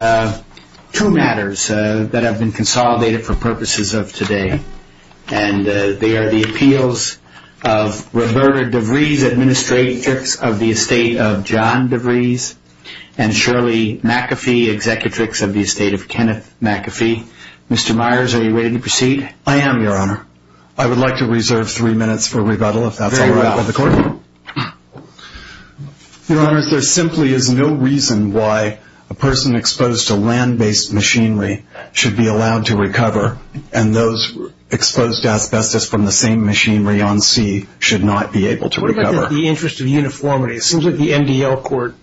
I would like to reserve three minutes for rebuttal, if that's all right with the Court. Your Honors, there simply is no reason why a person exposed to land-based machinery should be allowed to recover, and those exposed to asbestos from the same machinery on sea should not be able to recover. What about the interest of uniformity? It seems like the MDL Court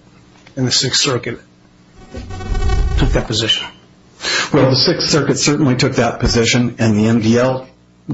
and the Sixth Circuit took that position. Well, the Sixth Circuit certainly took that position, and the MDL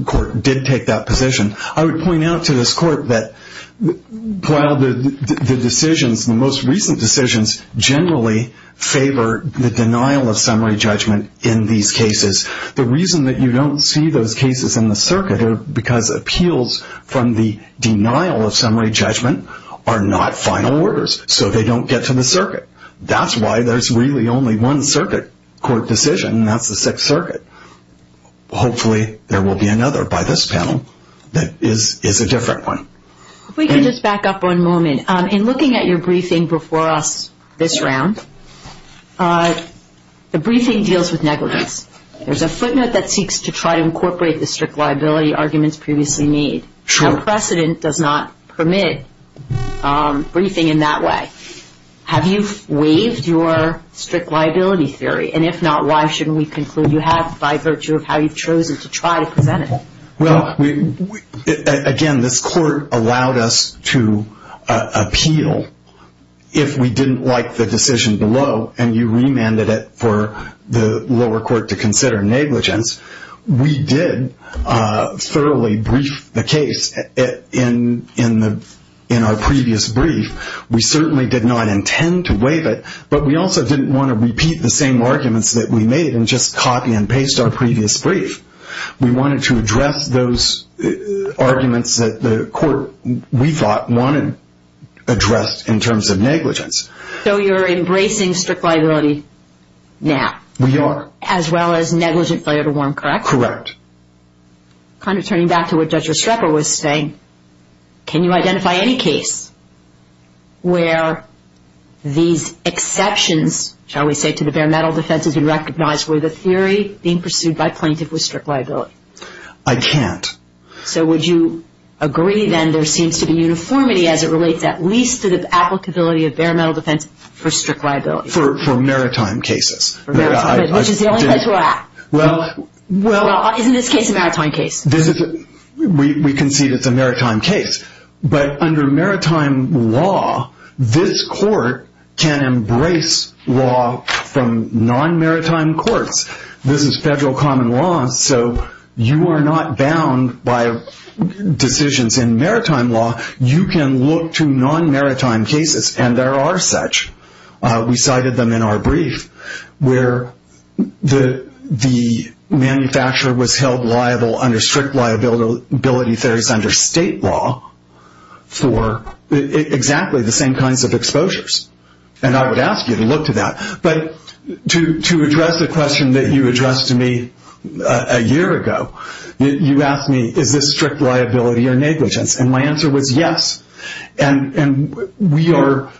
Court did take that position. I would point out to this Court that while the decisions, the most recent decisions, generally favor the denial of summary judgment in these cases, the reason that you don't see those cases in the Circuit are because appeals from the denial of summary judgment are not final orders, so they don't get to the Circuit. That's why there's really only one Circuit Court decision, and that's the Sixth Circuit. Hopefully, there will be another by this panel that is a different one. If we could just back up one moment. In looking at your briefing before us this round, the briefing deals with negligence. There's a footnote that seeks to try to incorporate the strict liability arguments previously made. True. But precedent does not permit briefing in that way. Have you waived your strict liability theory? And if not, why shouldn't we conclude you have by virtue of how you've chosen to try to present it? Well, again, this Court allowed us to appeal if we didn't like the decision below, and you remanded it for the lower court to consider negligence. We did thoroughly brief the case in our previous brief. We certainly did not intend to waive it, but we also didn't want to repeat the same arguments that we made and just copy and paste our previous brief. We wanted to address those arguments that the Court, we thought, wanted addressed in terms of negligence. So you're embracing strict liability now? We are. As well as negligent failure to warn, correct? Correct. Kind of turning back to what Judge Restrepo was saying, can you identify any case where these exceptions, shall we say, to the bare metal defense has been recognized where the theory being pursued by plaintiff was strict liability? I can't. So would you agree then there seems to be uniformity as it relates at least to the applicability of bare metal defense for strict liability? For maritime cases. Which is the only place we're at. Isn't this case a maritime case? We concede it's a maritime case, but under maritime law, this Court can embrace law from non-maritime courts. This is federal common law, so you are not bound by decisions in maritime law. You can look to non-maritime cases, and there are such. We cited them in our brief where the manufacturer was held liable under strict liability under state law for exactly the same kinds of exposures. And I would ask you to look to that. But to address the question that you addressed to me a year ago, you asked me, is this strict liability or negligence? And my answer was yes. And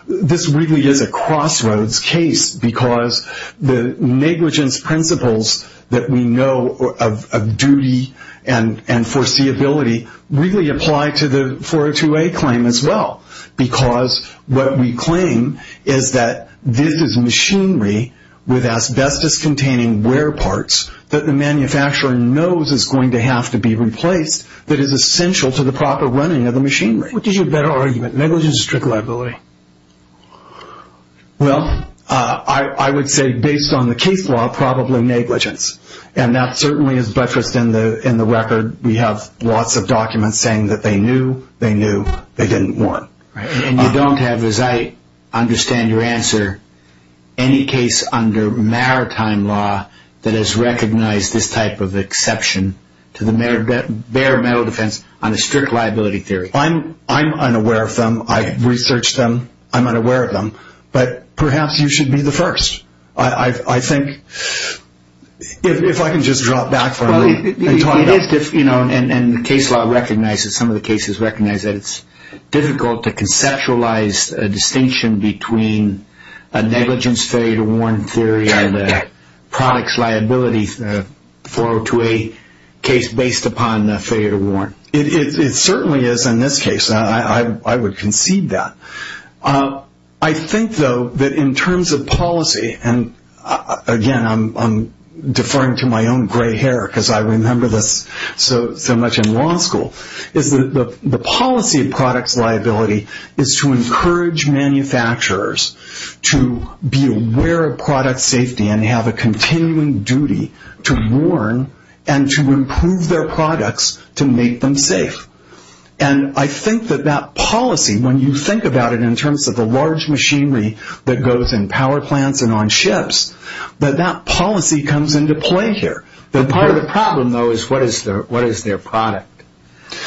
this really is a crossroads case because the negligence principles that we know of duty and foreseeability really apply to the 402A claim as well. Because what we claim is that this is machinery with asbestos-containing wear parts that the manufacturer knows is going to have to be replaced that is essential to the proper running of the machinery. What is your better argument, negligence or strict liability? Well, I would say based on the case law, probably negligence. And that certainly is buttressed in the record. We have lots of documents saying that they knew, they knew, they didn't want. And you don't have, as I understand your answer, any case under maritime law that has recognized this type of exception to the bare metal defense on a strict liability theory. I'm unaware of them. I've researched them. I'm unaware of them. But perhaps you should be the first, I think, if I can just drop back for a minute and talk about it. It is, you know, and the case law recognizes, some of the cases recognize that it's difficult to conceptualize a distinction between a negligence failure to warn theory and a products liability 402A case based upon failure to warn. It certainly is in this case. I would concede that. I think, though, that in terms of policy, and, again, I'm deferring to my own gray hair because I remember this so much in law school, is that the policy of products liability is to encourage manufacturers to be aware of product safety and have a continuing duty to warn and to improve their products to make them safe. And I think that that policy, when you think about it in terms of the large machinery that goes in power plants and on ships, that that policy comes into play here. Part of the problem, though, is what is their product?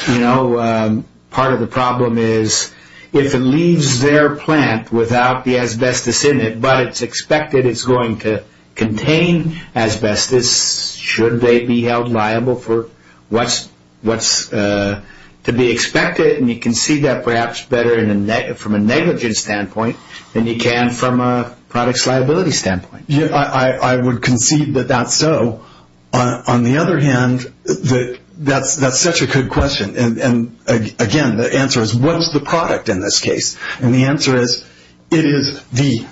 You know, part of the problem is if it leaves their plant without the asbestos in it, but it's expected it's going to contain asbestos, should they be held liable for what's to be expected? And you can see that perhaps better from a negligence standpoint than you can from a products liability standpoint. I would concede that that's so. On the other hand, that's such a good question. And, again, the answer is what is the product in this case? And the answer is it is the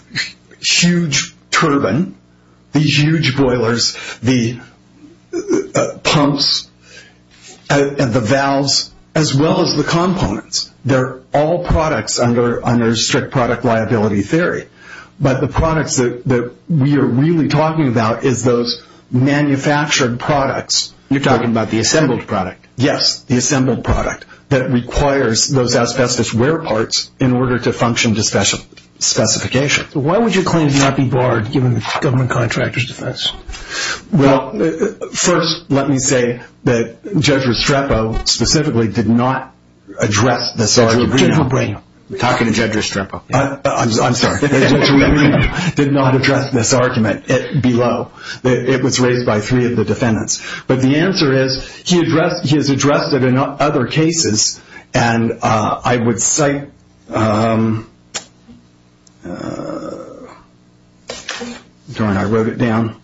huge turbine, these huge boilers, the pumps, and the valves, as well as the components. They're all products under strict product liability theory. But the products that we are really talking about is those manufactured products. You're talking about the assembled product? Yes, the assembled product that requires those asbestos wear parts in order to function to specification. Why would you claim to not be barred given the government contractor's defense? Well, first, let me say that Judge Restrepo specifically did not address this argument. I'm talking to Judge Restrepo. I'm sorry. Judge Restrepo did not address this argument below. It was raised by three of the defendants. But the answer is he has addressed it in other cases, and I would cite – I wrote it down.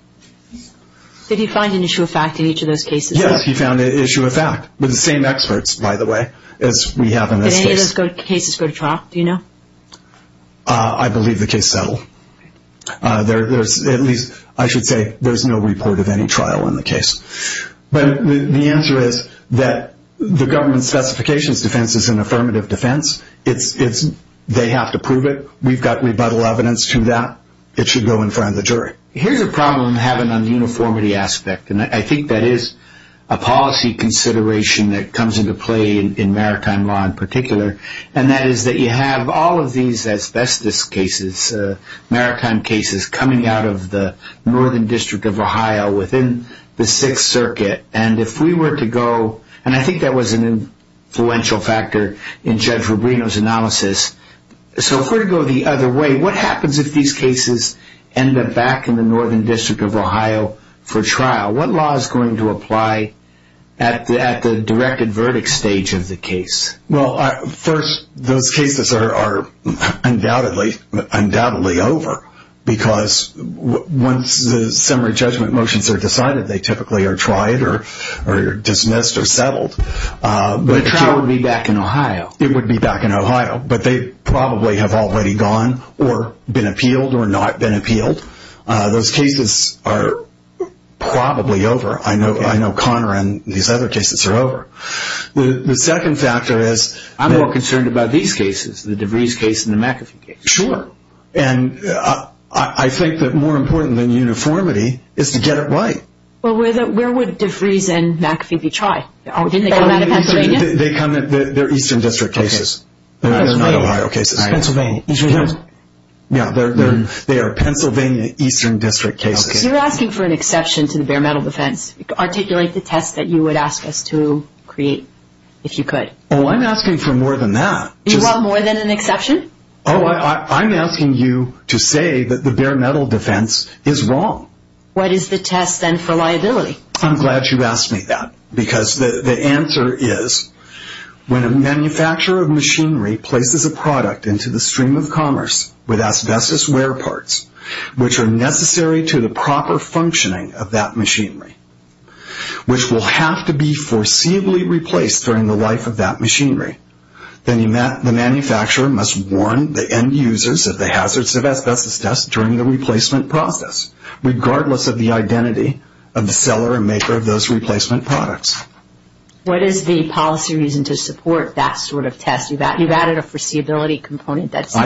Did he find an issue of fact in each of those cases? Yes, he found an issue of fact with the same experts, by the way, as we have in this case. Did any of those cases go to trial? Do you know? I believe the case settled. At least, I should say, there's no report of any trial in the case. But the answer is that the government's specifications defense is an affirmative defense. They have to prove it. We've got rebuttal evidence to that. It should go in front of the jury. Here's a problem I'm having on the uniformity aspect, and I think that is a policy consideration that comes into play in maritime law in particular, and that is that you have all of these asbestos cases, maritime cases, coming out of the Northern District of Ohio within the Sixth Circuit. And if we were to go – and I think that was an influential factor in Judge Rubino's analysis. So if we were to go the other way, what happens if these cases end up back in the Northern District of Ohio for trial? What law is going to apply at the directed verdict stage of the case? Well, first, those cases are undoubtedly over because once the summary judgment motions are decided, they typically are tried or dismissed or settled. But a trial would be back in Ohio. It would be back in Ohio, but they probably have already gone or been appealed or not been appealed. Those cases are probably over. I know Connor and these other cases are over. The second factor is – I'm more concerned about these cases, the DeVries case and the McAfee case. Sure. And I think that more important than uniformity is to get it right. Well, where would DeVries and McAfee be tried? Didn't they come out of Pennsylvania? They're Eastern District cases. They're not Ohio cases. Pennsylvania. Pennsylvania. Yeah, they are Pennsylvania Eastern District cases. You're asking for an exception to the bare metal defense. Articulate the test that you would ask us to create if you could. Oh, I'm asking for more than that. You want more than an exception? Oh, I'm asking you to say that the bare metal defense is wrong. What is the test then for liability? I'm glad you asked me that because the answer is When a manufacturer of machinery places a product into the stream of commerce with asbestos wear parts, which are necessary to the proper functioning of that machinery, which will have to be foreseeably replaced during the life of that machinery, then the manufacturer must warn the end users of the hazards of asbestos dust during the replacement process, regardless of the identity of the seller and maker of those replacement products. What is the policy reason to support that sort of test? You've added a foreseeability component. That's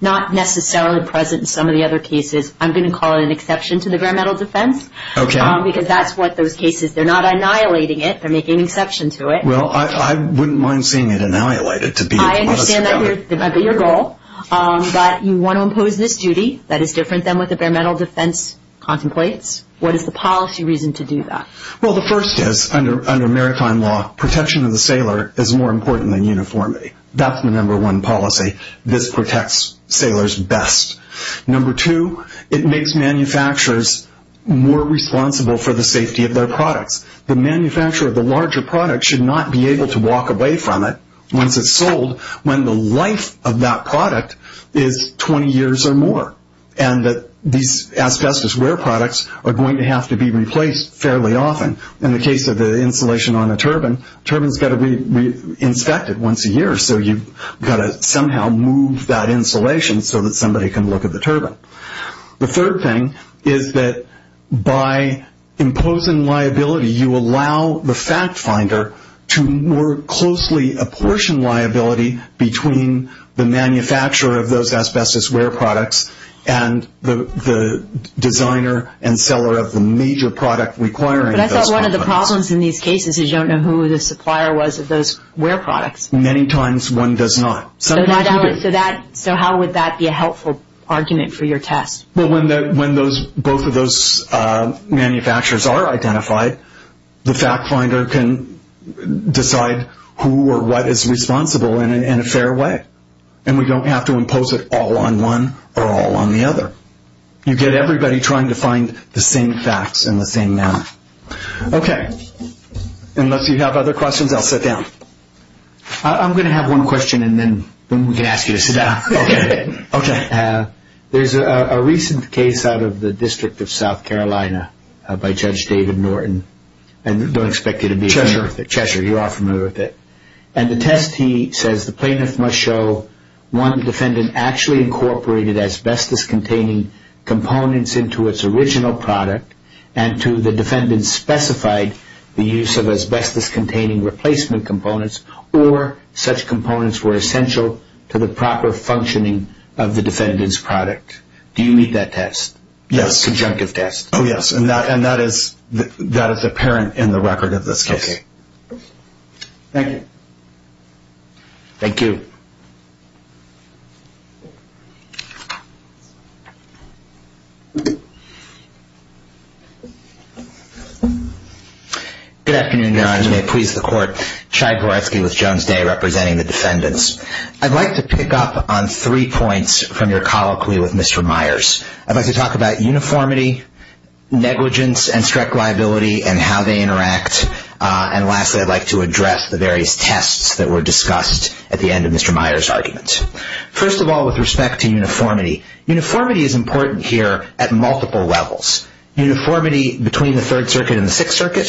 not necessarily present in some of the other cases. I'm going to call it an exception to the bare metal defense. Okay. Because that's what those cases, they're not annihilating it. They're making an exception to it. Well, I wouldn't mind seeing it annihilated. I understand that might be your goal, but you want to impose this duty that is different than what the bare metal defense contemplates. What is the policy reason to do that? Well, the first is, under maritime law, protection of the sailor is more important than uniformity. That's the number one policy. This protects sailors best. Number two, it makes manufacturers more responsible for the safety of their products. The manufacturer of the larger product should not be able to walk away from it once it's sold when the life of that product is 20 years or more, and that these asbestos wear products are going to have to be replaced fairly often. In the case of the insulation on a turbine, turbine's got to be inspected once a year, so you've got to somehow move that insulation so that somebody can look at the turbine. The third thing is that by imposing liability, you allow the fact finder to more closely apportion liability between the manufacturer of those asbestos wear products and the designer and seller of the major product requiring those wear products. But I thought one of the problems in these cases is you don't know who the supplier was of those wear products. Many times one does not. So how would that be a helpful argument for your test? Well, when both of those manufacturers are identified, the fact finder can decide who or what is responsible in a fair way, and we don't have to impose it all on one or all on the other. You get everybody trying to find the same facts in the same manner. Okay. Unless you have other questions, I'll sit down. I'm going to have one question, and then we can ask you to sit down. Okay. There's a recent case out of the District of South Carolina by Judge David Norton, and don't expect you to be familiar with it. Cheshire. Cheshire, you are familiar with it. And the test, he says, the plaintiff must show one defendant actually incorporated asbestos-containing components into its original product and to the defendant specified the use of asbestos-containing replacement components or such components were essential to the proper functioning of the defendant's product. Do you read that test? Yes. Conjunctive test. Oh, yes, and that is apparent in the record of this case. Okay. Thank you. Thank you. Good afternoon, Your Honor. May it please the Court. Chai Goretsky with Jones Day representing the defendants. I'd like to pick up on three points from your colloquy with Mr. Myers. I'd like to talk about uniformity, negligence, and strike liability and how they interact. And lastly, I'd like to address the various tests that were discussed at the end of Mr. Myers' argument. First of all, with respect to uniformity, uniformity is important here at multiple levels. Uniformity between the Third Circuit and the Sixth Circuit,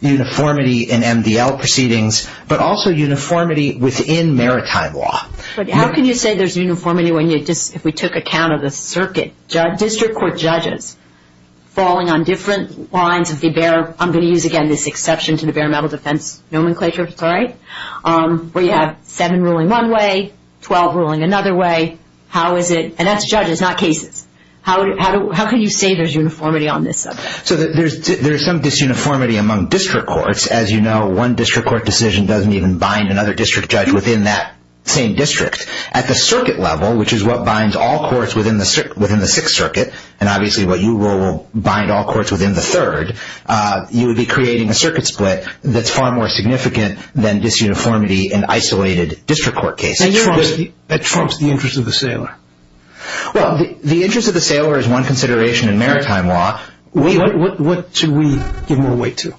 uniformity in MDL proceedings, but also uniformity within maritime law. But how can you say there's uniformity if we took account of the circuit? District court judges falling on different lines of the bare, I'm going to use again this exception to the bare metal defense nomenclature, sorry, where you have seven ruling one way, 12 ruling another way. How is it, and that's judges, not cases. How can you say there's uniformity on this subject? So there's some disuniformity among district courts. As you know, one district court decision doesn't even bind another district judge within that same district. At the circuit level, which is what binds all courts within the Sixth Circuit, and obviously what you rule will bind all courts within the Third, you would be creating a circuit split that's far more significant than disuniformity in isolated district court cases. And that trumps the interest of the sailor. Well, the interest of the sailor is one consideration in maritime law. What should we give more weight to?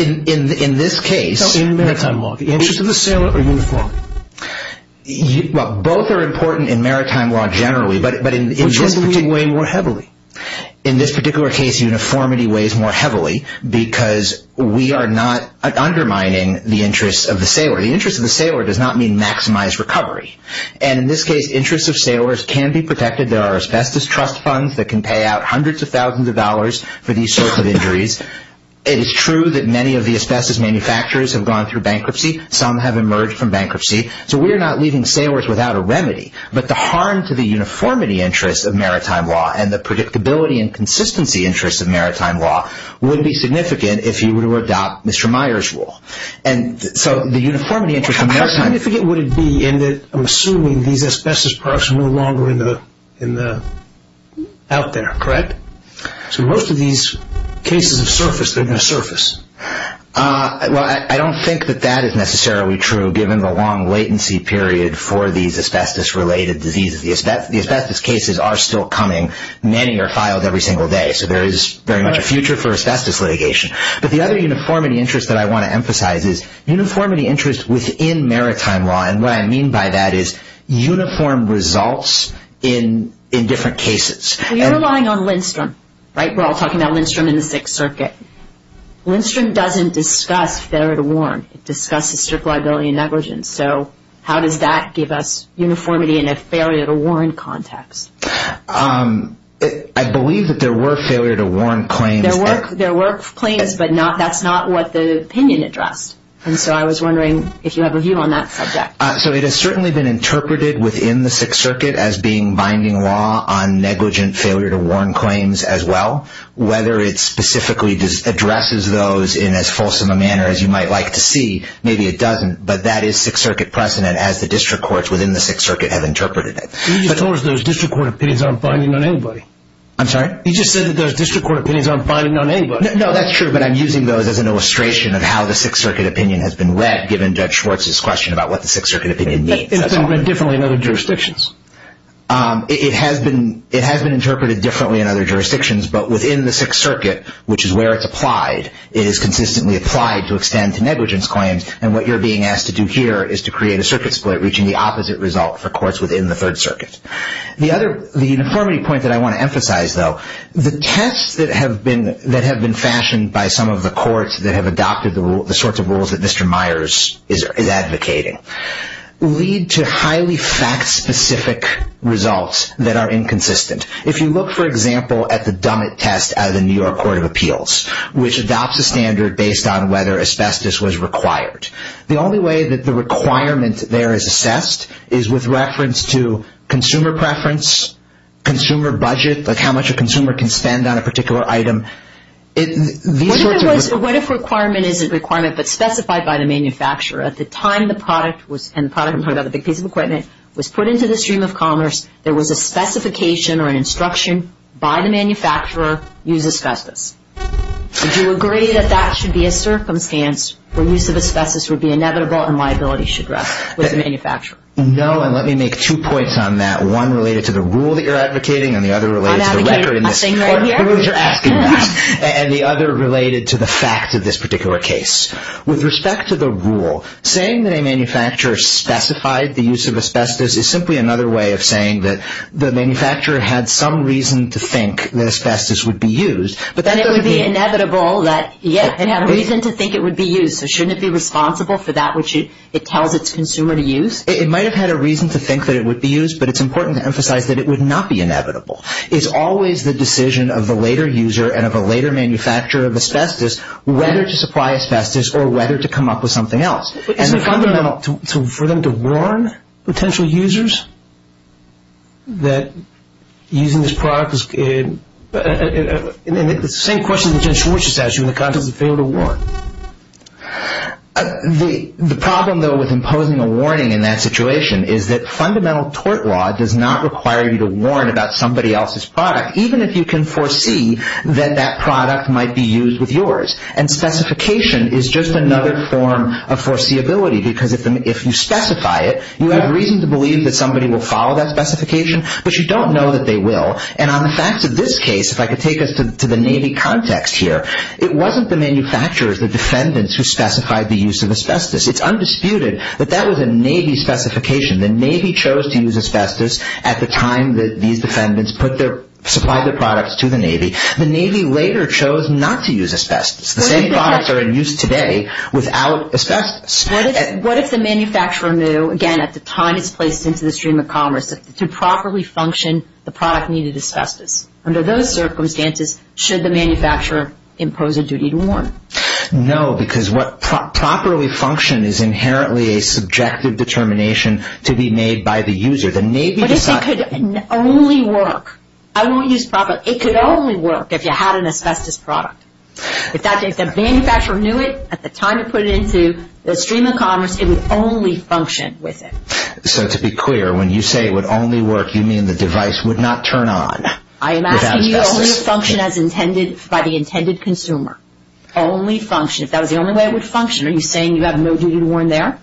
In this case. In maritime law, the interest of the sailor or uniformity? Well, both are important in maritime law generally, but in this particular case. Which should we weigh more heavily? In this particular case, uniformity weighs more heavily because we are not undermining the interest of the sailor. The interest of the sailor does not mean maximized recovery. And in this case, interest of sailors can be protected. There are asbestos trust funds that can pay out hundreds of thousands of dollars for these sorts of injuries. It is true that many of the asbestos manufacturers have gone through bankruptcy. Some have emerged from bankruptcy. So we are not leaving sailors without a remedy. But the harm to the uniformity interest of maritime law and the predictability and consistency interest of maritime law would be significant if you were to adopt Mr. Meyer's rule. And so the uniformity interest of maritime... How significant would it be in that I'm assuming these asbestos products are no longer out there, correct? So most of these cases of surface, they're going to surface. Well, I don't think that that is necessarily true given the long latency period for these asbestos-related diseases. The asbestos cases are still coming. Many are filed every single day. So there is very much a future for asbestos litigation. But the other uniformity interest that I want to emphasize is uniformity interest within maritime law. And what I mean by that is uniform results in different cases. We are relying on Lindstrom, right? We're all talking about Lindstrom in the Sixth Circuit. Lindstrom doesn't discuss failure to warn. It discusses strict liability and negligence. So how does that give us uniformity in a failure to warn context? I believe that there were failure to warn claims. There were claims, but that's not what the opinion addressed. And so I was wondering if you have a view on that subject. So it has certainly been interpreted within the Sixth Circuit as being binding law on negligent failure to warn claims as well. Whether it specifically addresses those in as fulsome a manner as you might like to see, maybe it doesn't, but that is Sixth Circuit precedent as the district courts within the Sixth Circuit have interpreted it. You just told us those district court opinions aren't binding on anybody. I'm sorry? You just said that those district court opinions aren't binding on anybody. No, that's true, but I'm using those as an illustration of how the Sixth Circuit opinion has been read given Judge Schwartz's question about what the Sixth Circuit opinion means. But it's been read differently in other jurisdictions. It has been interpreted differently in other jurisdictions, but within the Sixth Circuit, which is where it's applied, it is consistently applied to extend to negligence claims. And what you're being asked to do here is to create a circuit split reaching the opposite result for courts within the Third Circuit. The uniformity point that I want to emphasize, though, the tests that have been fashioned by some of the courts that have adopted the sorts of rules that Mr. Myers is advocating lead to highly fact-specific results that are inconsistent. If you look, for example, at the Dummett test out of the New York Court of Appeals, which adopts a standard based on whether asbestos was required, the only way that the requirement there is assessed is with reference to consumer preference, consumer budget, like how much a consumer can spend on a particular item. What if requirement isn't requirement but specified by the manufacturer? At the time the product was put into the stream of commerce, there was a specification or an instruction by the manufacturer, use asbestos. Would you agree that that should be a circumstance where use of asbestos would be inevitable and liability should rest with the manufacturer? No, and let me make two points on that. One related to the rule that you're advocating and the other related to the fact of this particular case. With respect to the rule, saying that a manufacturer specified the use of asbestos is simply another way of saying that the manufacturer had some reason to think that asbestos would be used. But then it would be inevitable that, yes, it had a reason to think it would be used, so shouldn't it be responsible for that which it tells its consumer to use? It might have had a reason to think that it would be used, but it's important to emphasize that it would not be inevitable. It's always the decision of the later user and of a later manufacturer of asbestos whether to supply asbestos or whether to come up with something else. But isn't it fundamental for them to warn potential users that using this product is, and the same question that Jim Schwartz just asked you in the context of failure to warn. The problem, though, with imposing a warning in that situation is that fundamental tort law does not require you to warn about somebody else's product, even if you can foresee that that product might be used with yours. And specification is just another form of foreseeability because if you specify it, you have reason to believe that somebody will follow that specification, but you don't know that they will. And on the facts of this case, if I could take us to the Navy context here, it wasn't the manufacturers, the defendants, who specified the use of asbestos. It's undisputed that that was a Navy specification. The Navy chose to use asbestos at the time that these defendants supplied their products to the Navy. The Navy later chose not to use asbestos. The same products are in use today without asbestos. What if the manufacturer knew, again, at the time it's placed into the stream of commerce, that to properly function, the product needed asbestos? Under those circumstances, should the manufacturer impose a duty to warn? No, because what properly function is inherently a subjective determination to be made by the user. The Navy decided... What if it could only work? I won't use proper... It could only work if you had an asbestos product. If the manufacturer knew it at the time it put it into the stream of commerce, it would only function with it. So to be clear, when you say it would only work, you mean the device would not turn on without asbestos. I am asking you only to function as intended by the intended consumer. Only function. If that was the only way it would function, are you saying you have no duty to warn there?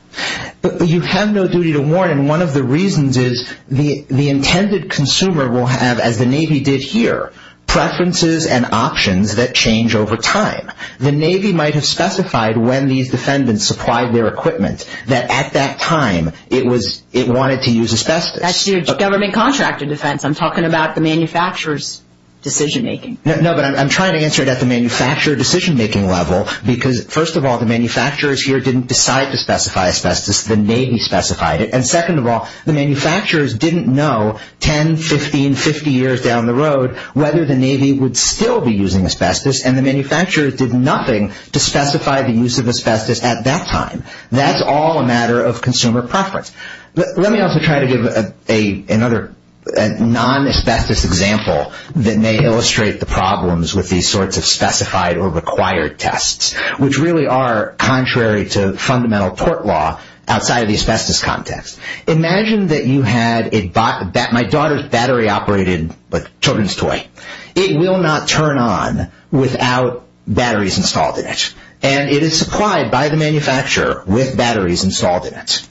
You have no duty to warn, and one of the reasons is the intended consumer will have, as the Navy did here, preferences and options that change over time. The Navy might have specified when these defendants supplied their equipment that at that time it wanted to use asbestos. That's your government contractor defense. I'm talking about the manufacturer's decision-making. No, but I'm trying to answer it at the manufacturer decision-making level because, first of all, the manufacturers here didn't decide to specify asbestos. The Navy specified it, and second of all, the manufacturers didn't know 10, 15, 50 years down the road whether the Navy would still be using asbestos, and the manufacturers did nothing to specify the use of asbestos at that time. That's all a matter of consumer preference. Let me also try to give another non-asbestos example that may illustrate the problems with these sorts of specified or required tests, which really are contrary to fundamental tort law outside of the asbestos context. Imagine that my daughter's battery operated like a children's toy. It will not turn on without batteries installed in it, and it is supplied by the manufacturer with batteries installed in it.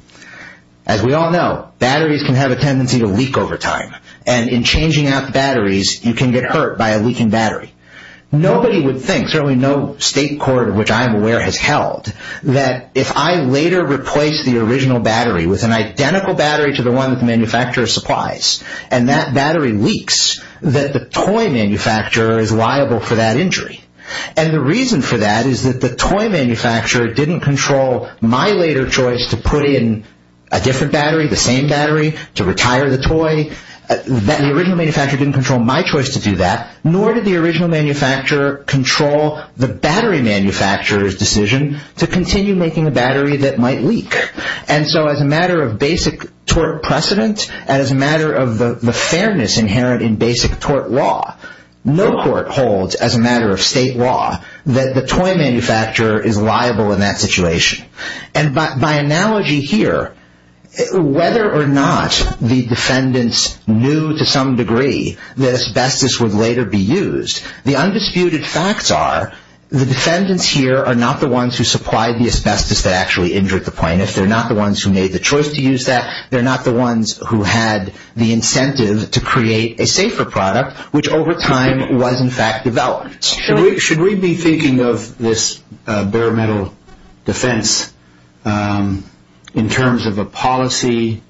As we all know, batteries can have a tendency to leak over time, and in changing out the batteries, you can get hurt by a leaking battery. Nobody would think, certainly no state court of which I am aware has held, that if I later replace the original battery with an identical battery to the one that the manufacturer supplies, and that battery leaks, that the toy manufacturer is liable for that injury. The reason for that is that the toy manufacturer didn't control my later choice to put in a different battery, the same battery, to retire the toy. The original manufacturer didn't control my choice to do that, nor did the original manufacturer control the battery manufacturer's decision to continue making a battery that might leak. As a matter of basic tort precedent, and as a matter of the fairness inherent in basic tort law, no court holds as a matter of state law that the toy manufacturer is liable in that situation. By analogy here, whether or not the defendants knew to some degree that asbestos would later be used, the undisputed facts are the defendants here are not the ones who supplied the asbestos that actually injured the plaintiff. They're not the ones who made the choice to use that. They're not the ones who had the incentive to create a safer product, which over time was in fact developed. Should we be thinking of this bare metal defense in terms of a policy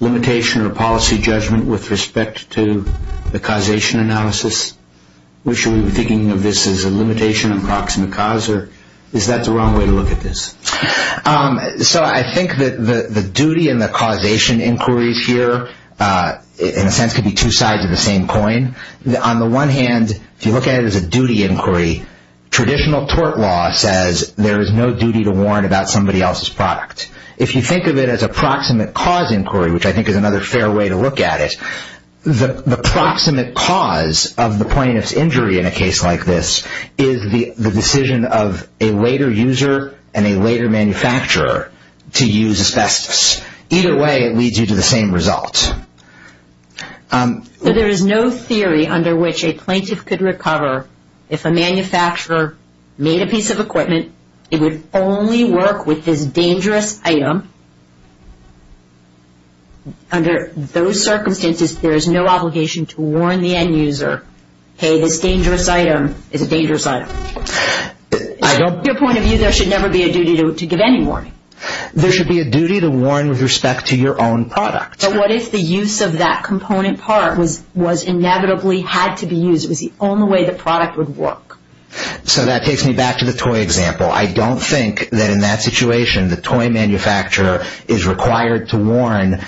limitation or a policy judgment with respect to the causation analysis? Should we be thinking of this as a limitation of proximate cause, or is that the wrong way to look at this? I think that the duty and the causation inquiries here, in a sense, could be two sides of the same coin. On the one hand, if you look at it as a duty inquiry, traditional tort law says there is no duty to warn about somebody else's product. If you think of it as a proximate cause inquiry, which I think is another fair way to look at it, the proximate cause of the plaintiff's injury in a case like this is the decision of a later user and a later manufacturer to use asbestos. Either way, it leads you to the same result. So there is no theory under which a plaintiff could recover if a manufacturer made a piece of equipment. It would only work with this dangerous item. Under those circumstances, there is no obligation to warn the end user, hey, this dangerous item is a dangerous item. From your point of view, there should never be a duty to give any warning. There should be a duty to warn with respect to your own product. But what if the use of that component part was inevitably had to be used? It was the only way the product would work. So that takes me back to the toy example. I don't think that in that situation the toy manufacturer is required to warn.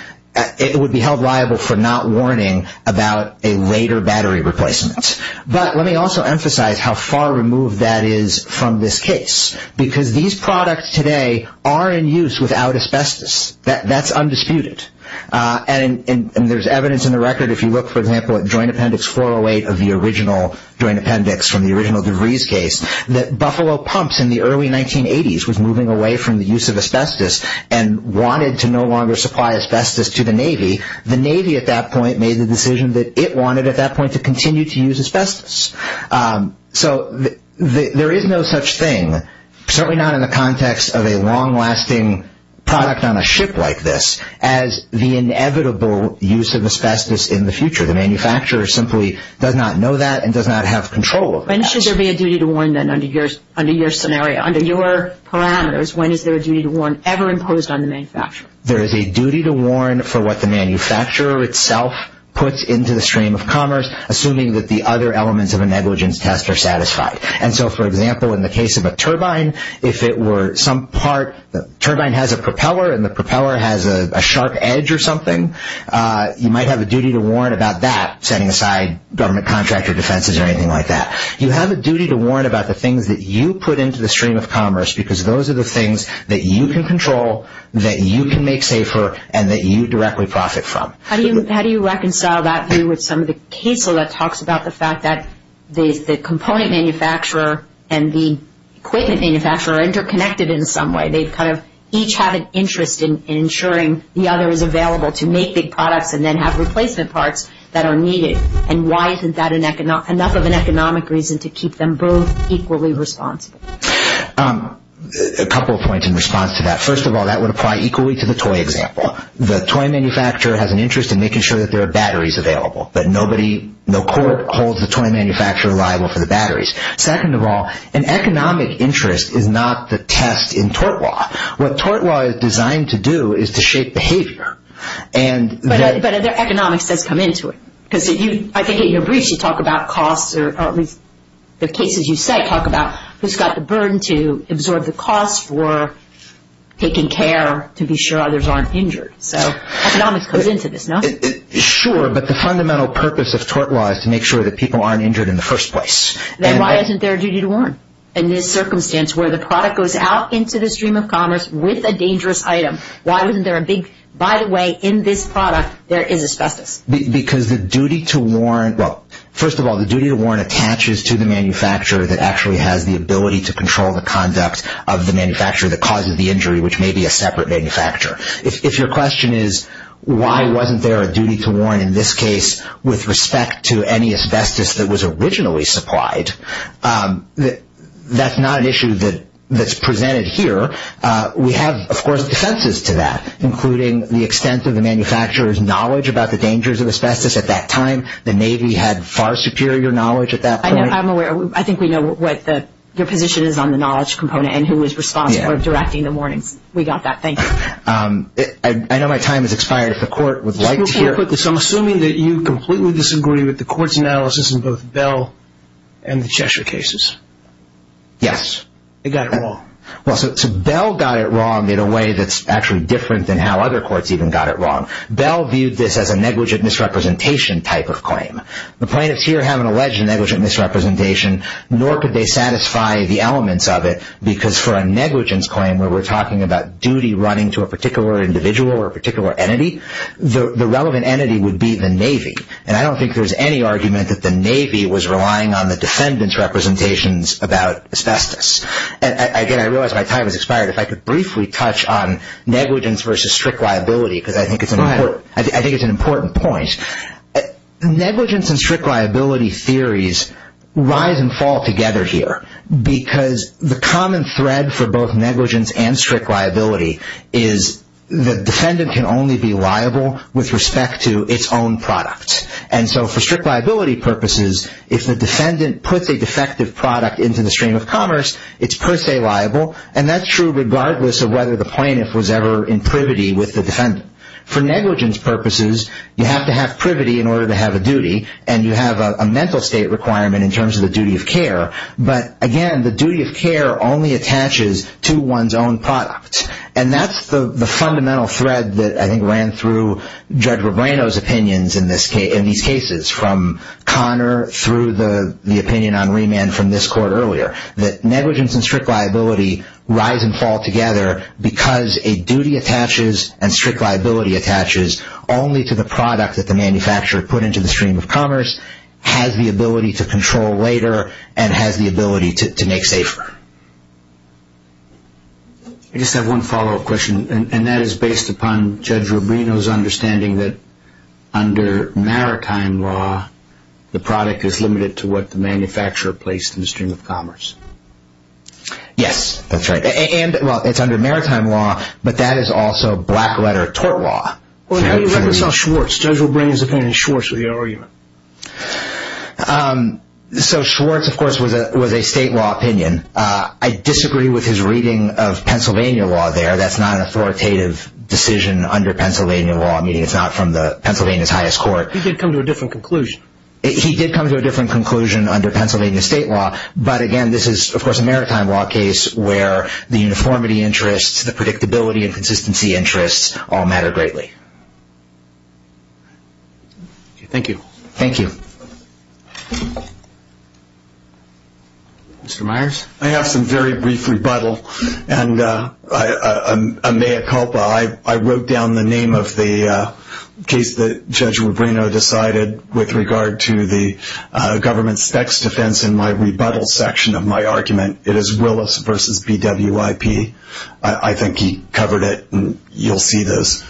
It would be held liable for not warning about a later battery replacement. But let me also emphasize how far removed that is from this case because these products today are in use without asbestos. That's undisputed. And there's evidence in the record. If you look, for example, at Joint Appendix 408 of the original Joint Appendix from the original DeVries case, that Buffalo Pumps in the early 1980s was moving away from the use of asbestos and wanted to no longer supply asbestos to the Navy. The Navy at that point made the decision that it wanted at that point to continue to use asbestos. So there is no such thing, certainly not in the context of a long-lasting product on a ship like this, as the inevitable use of asbestos in the future. The manufacturer simply does not know that and does not have control of that. When should there be a duty to warn then under your scenario, under your parameters? When is there a duty to warn ever imposed on the manufacturer? There is a duty to warn for what the manufacturer itself puts into the stream of commerce, assuming that the other elements of a negligence test are satisfied. And so, for example, in the case of a turbine, if it were some part, the turbine has a propeller and the propeller has a sharp edge or something, you might have a duty to warn about that, setting aside government contract or defenses or anything like that. You have a duty to warn about the things that you put into the stream of commerce because those are the things that you can control, that you can make safer, and that you directly profit from. How do you reconcile that view with some of the case that talks about the fact that the component manufacturer and the equipment manufacturer are interconnected in some way? They kind of each have an interest in ensuring the other is available to make big products and then have replacement parts that are needed. And why isn't that enough of an economic reason to keep them both equally responsible? A couple of points in response to that. First of all, that would apply equally to the toy example. The toy manufacturer has an interest in making sure that there are batteries available, that nobody, no court holds the toy manufacturer liable for the batteries. Second of all, an economic interest is not the test in tort law. What tort law is designed to do is to shape behavior. But economics does come into it. I think in your briefs you talk about costs, or at least the cases you cite talk about who's got the burden to absorb the costs for taking care to be sure others aren't injured. So economics comes into this, no? Sure, but the fundamental purpose of tort law is to make sure that people aren't injured in the first place. Then why isn't there a duty to warrant? In this circumstance where the product goes out into the stream of commerce with a dangerous item, why isn't there a big, by the way, in this product there is asbestos? Because the duty to warrant, well, first of all, the duty to warrant attaches to the manufacturer that actually has the ability to control the conduct of the manufacturer that causes the injury, which may be a separate manufacturer. If your question is why wasn't there a duty to warrant in this case with respect to any asbestos that was originally supplied, that's not an issue that's presented here. We have, of course, defenses to that, including the extent of the manufacturer's knowledge about the dangers of asbestos at that time. The Navy had far superior knowledge at that point. I'm aware. I think we know what your position is on the knowledge component and who is responsible for directing the warnings. We got that. Thank you. I know my time has expired. If the Court would like to hear it. I'm assuming that you completely disagree with the Court's analysis in both Bell and the Cheshire cases. Yes. It got it wrong. Well, so Bell got it wrong in a way that's actually different than how other courts even got it wrong. Bell viewed this as a negligent misrepresentation type of claim. The plaintiffs here have an alleged negligent misrepresentation, nor could they satisfy the elements of it because for a negligence claim where we're talking about duty running to a particular individual or a particular entity, the relevant entity would be the Navy. I don't think there's any argument that the Navy was relying on the defendant's representations about asbestos. Again, I realize my time has expired. If I could briefly touch on negligence versus strict liability because I think it's an important point. Negligence and strict liability theories rise and fall together here because the common thread for both negligence and strict liability is the defendant can only be liable with respect to its own product. And so for strict liability purposes, if the defendant puts a defective product into the stream of commerce, it's per se liable. And that's true regardless of whether the plaintiff was ever in privity with the defendant. For negligence purposes, you have to have privity in order to have a duty, and you have a mental state requirement in terms of the duty of care. But again, the duty of care only attaches to one's own product. And that's the fundamental thread that I think ran through Judge Rebrano's opinions in these cases from Connor through the opinion on remand from this court earlier, that negligence and strict liability rise and fall together because a duty attaches and strict liability attaches only to the product that the manufacturer put into the stream of commerce, has the ability to control later, and has the ability to make safer. I just have one follow-up question, and that is based upon Judge Rebrano's understanding that under maritime law, the product is limited to what the manufacturer placed in the stream of commerce. Yes, that's right. And, well, it's under maritime law, but that is also black-letter tort law. Well, how do you reconcile Schwartz, Judge Rebrano's opinion, and Schwartz with your argument? So Schwartz, of course, was a state law opinion. I disagree with his reading of Pennsylvania law there. That's not an authoritative decision under Pennsylvania law, meaning it's not from Pennsylvania's highest court. He did come to a different conclusion. He did come to a different conclusion under Pennsylvania state law. But, again, this is, of course, a maritime law case where the uniformity interests, the predictability and consistency interests all matter greatly. Thank you. Thank you. Mr. Myers? I have some very brief rebuttal, and a mea culpa. I wrote down the name of the case that Judge Rebrano decided with regard to the government's tax defense in my rebuttal section of my argument. It is Willis v. BWIP. I think he covered it, and you'll see this.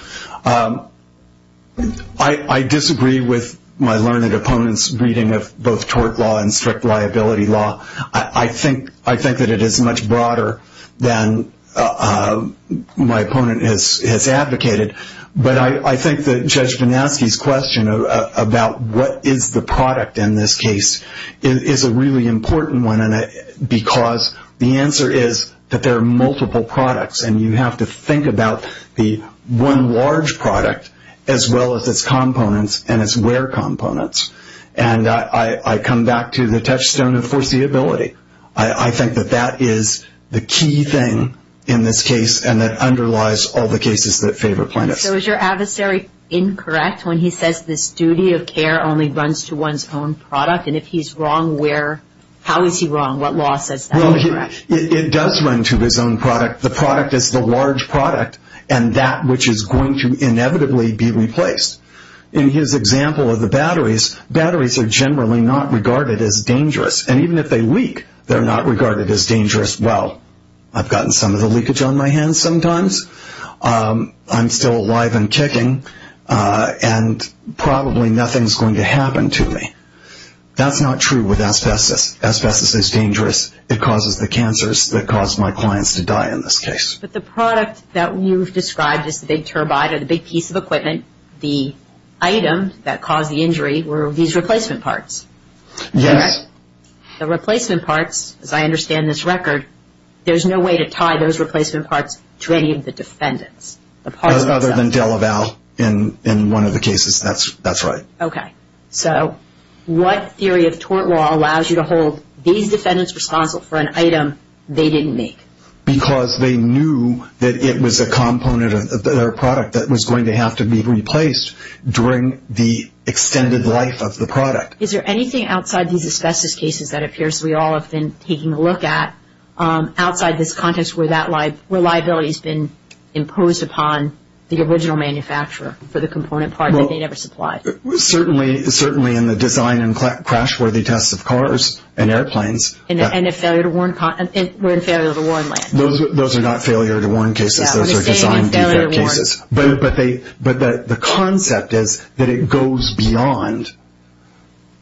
I disagree with my learned opponent's reading of both tort law and strict liability law. I think that it is much broader than my opponent has advocated, but I think that Judge Vanaski's question about what is the product in this case is a really important one, because the answer is that there are multiple products, and you have to think about the one large product as well as its components and its where components. And I come back to the touchstone of foreseeability. I think that that is the key thing in this case, and that underlies all the cases that favor plaintiffs. So is your adversary incorrect when he says this duty of care only runs to one's own product? And if he's wrong, how is he wrong? What law says that he's correct? It does run to his own product. The product is the large product, and that which is going to inevitably be replaced. In his example of the batteries, batteries are generally not regarded as dangerous, and even if they leak, they're not regarded as dangerous. Well, I've gotten some of the leakage on my hands sometimes. I'm still alive and kicking, and probably nothing's going to happen to me. That's not true with asbestos. Asbestos is dangerous. It causes the cancers that cause my clients to die in this case. But the product that you've described as the big turbine or the big piece of equipment, the item that caused the injury were these replacement parts. Yes. The replacement parts, as I understand this record, there's no way to tie those replacement parts to any of the defendants. Other than DeLaval in one of the cases, that's right. Okay. So what theory of tort law allows you to hold these defendants responsible for an item they didn't make? Because they knew that it was a component of their product that was going to have to be replaced during the extended life of the product. Is there anything outside these asbestos cases that appears we all have been taking a look at outside this context where that reliability has been imposed upon the original manufacturer for the component part that they never supplied? Certainly in the design and crash-worthy tests of cars and airplanes. And in failure to warn land. Those are not failure to warn cases. Those are design defect cases. But the concept is that it goes beyond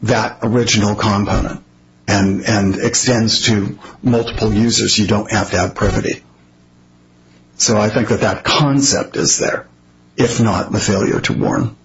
that original component You don't have to have privity. So I think that that concept is there, if not the failure to warn.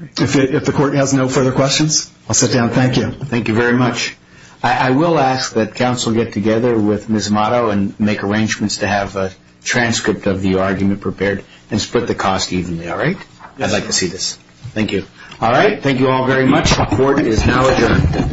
If the court has no further questions, I'll sit down. Thank you. Thank you very much. I will ask that counsel get together with Ms. Motto and make arrangements to have a transcript of the argument prepared and split the cost evenly, all right? I'd like to see this. Thank you. All right. Thank you all very much. Court is now adjourned.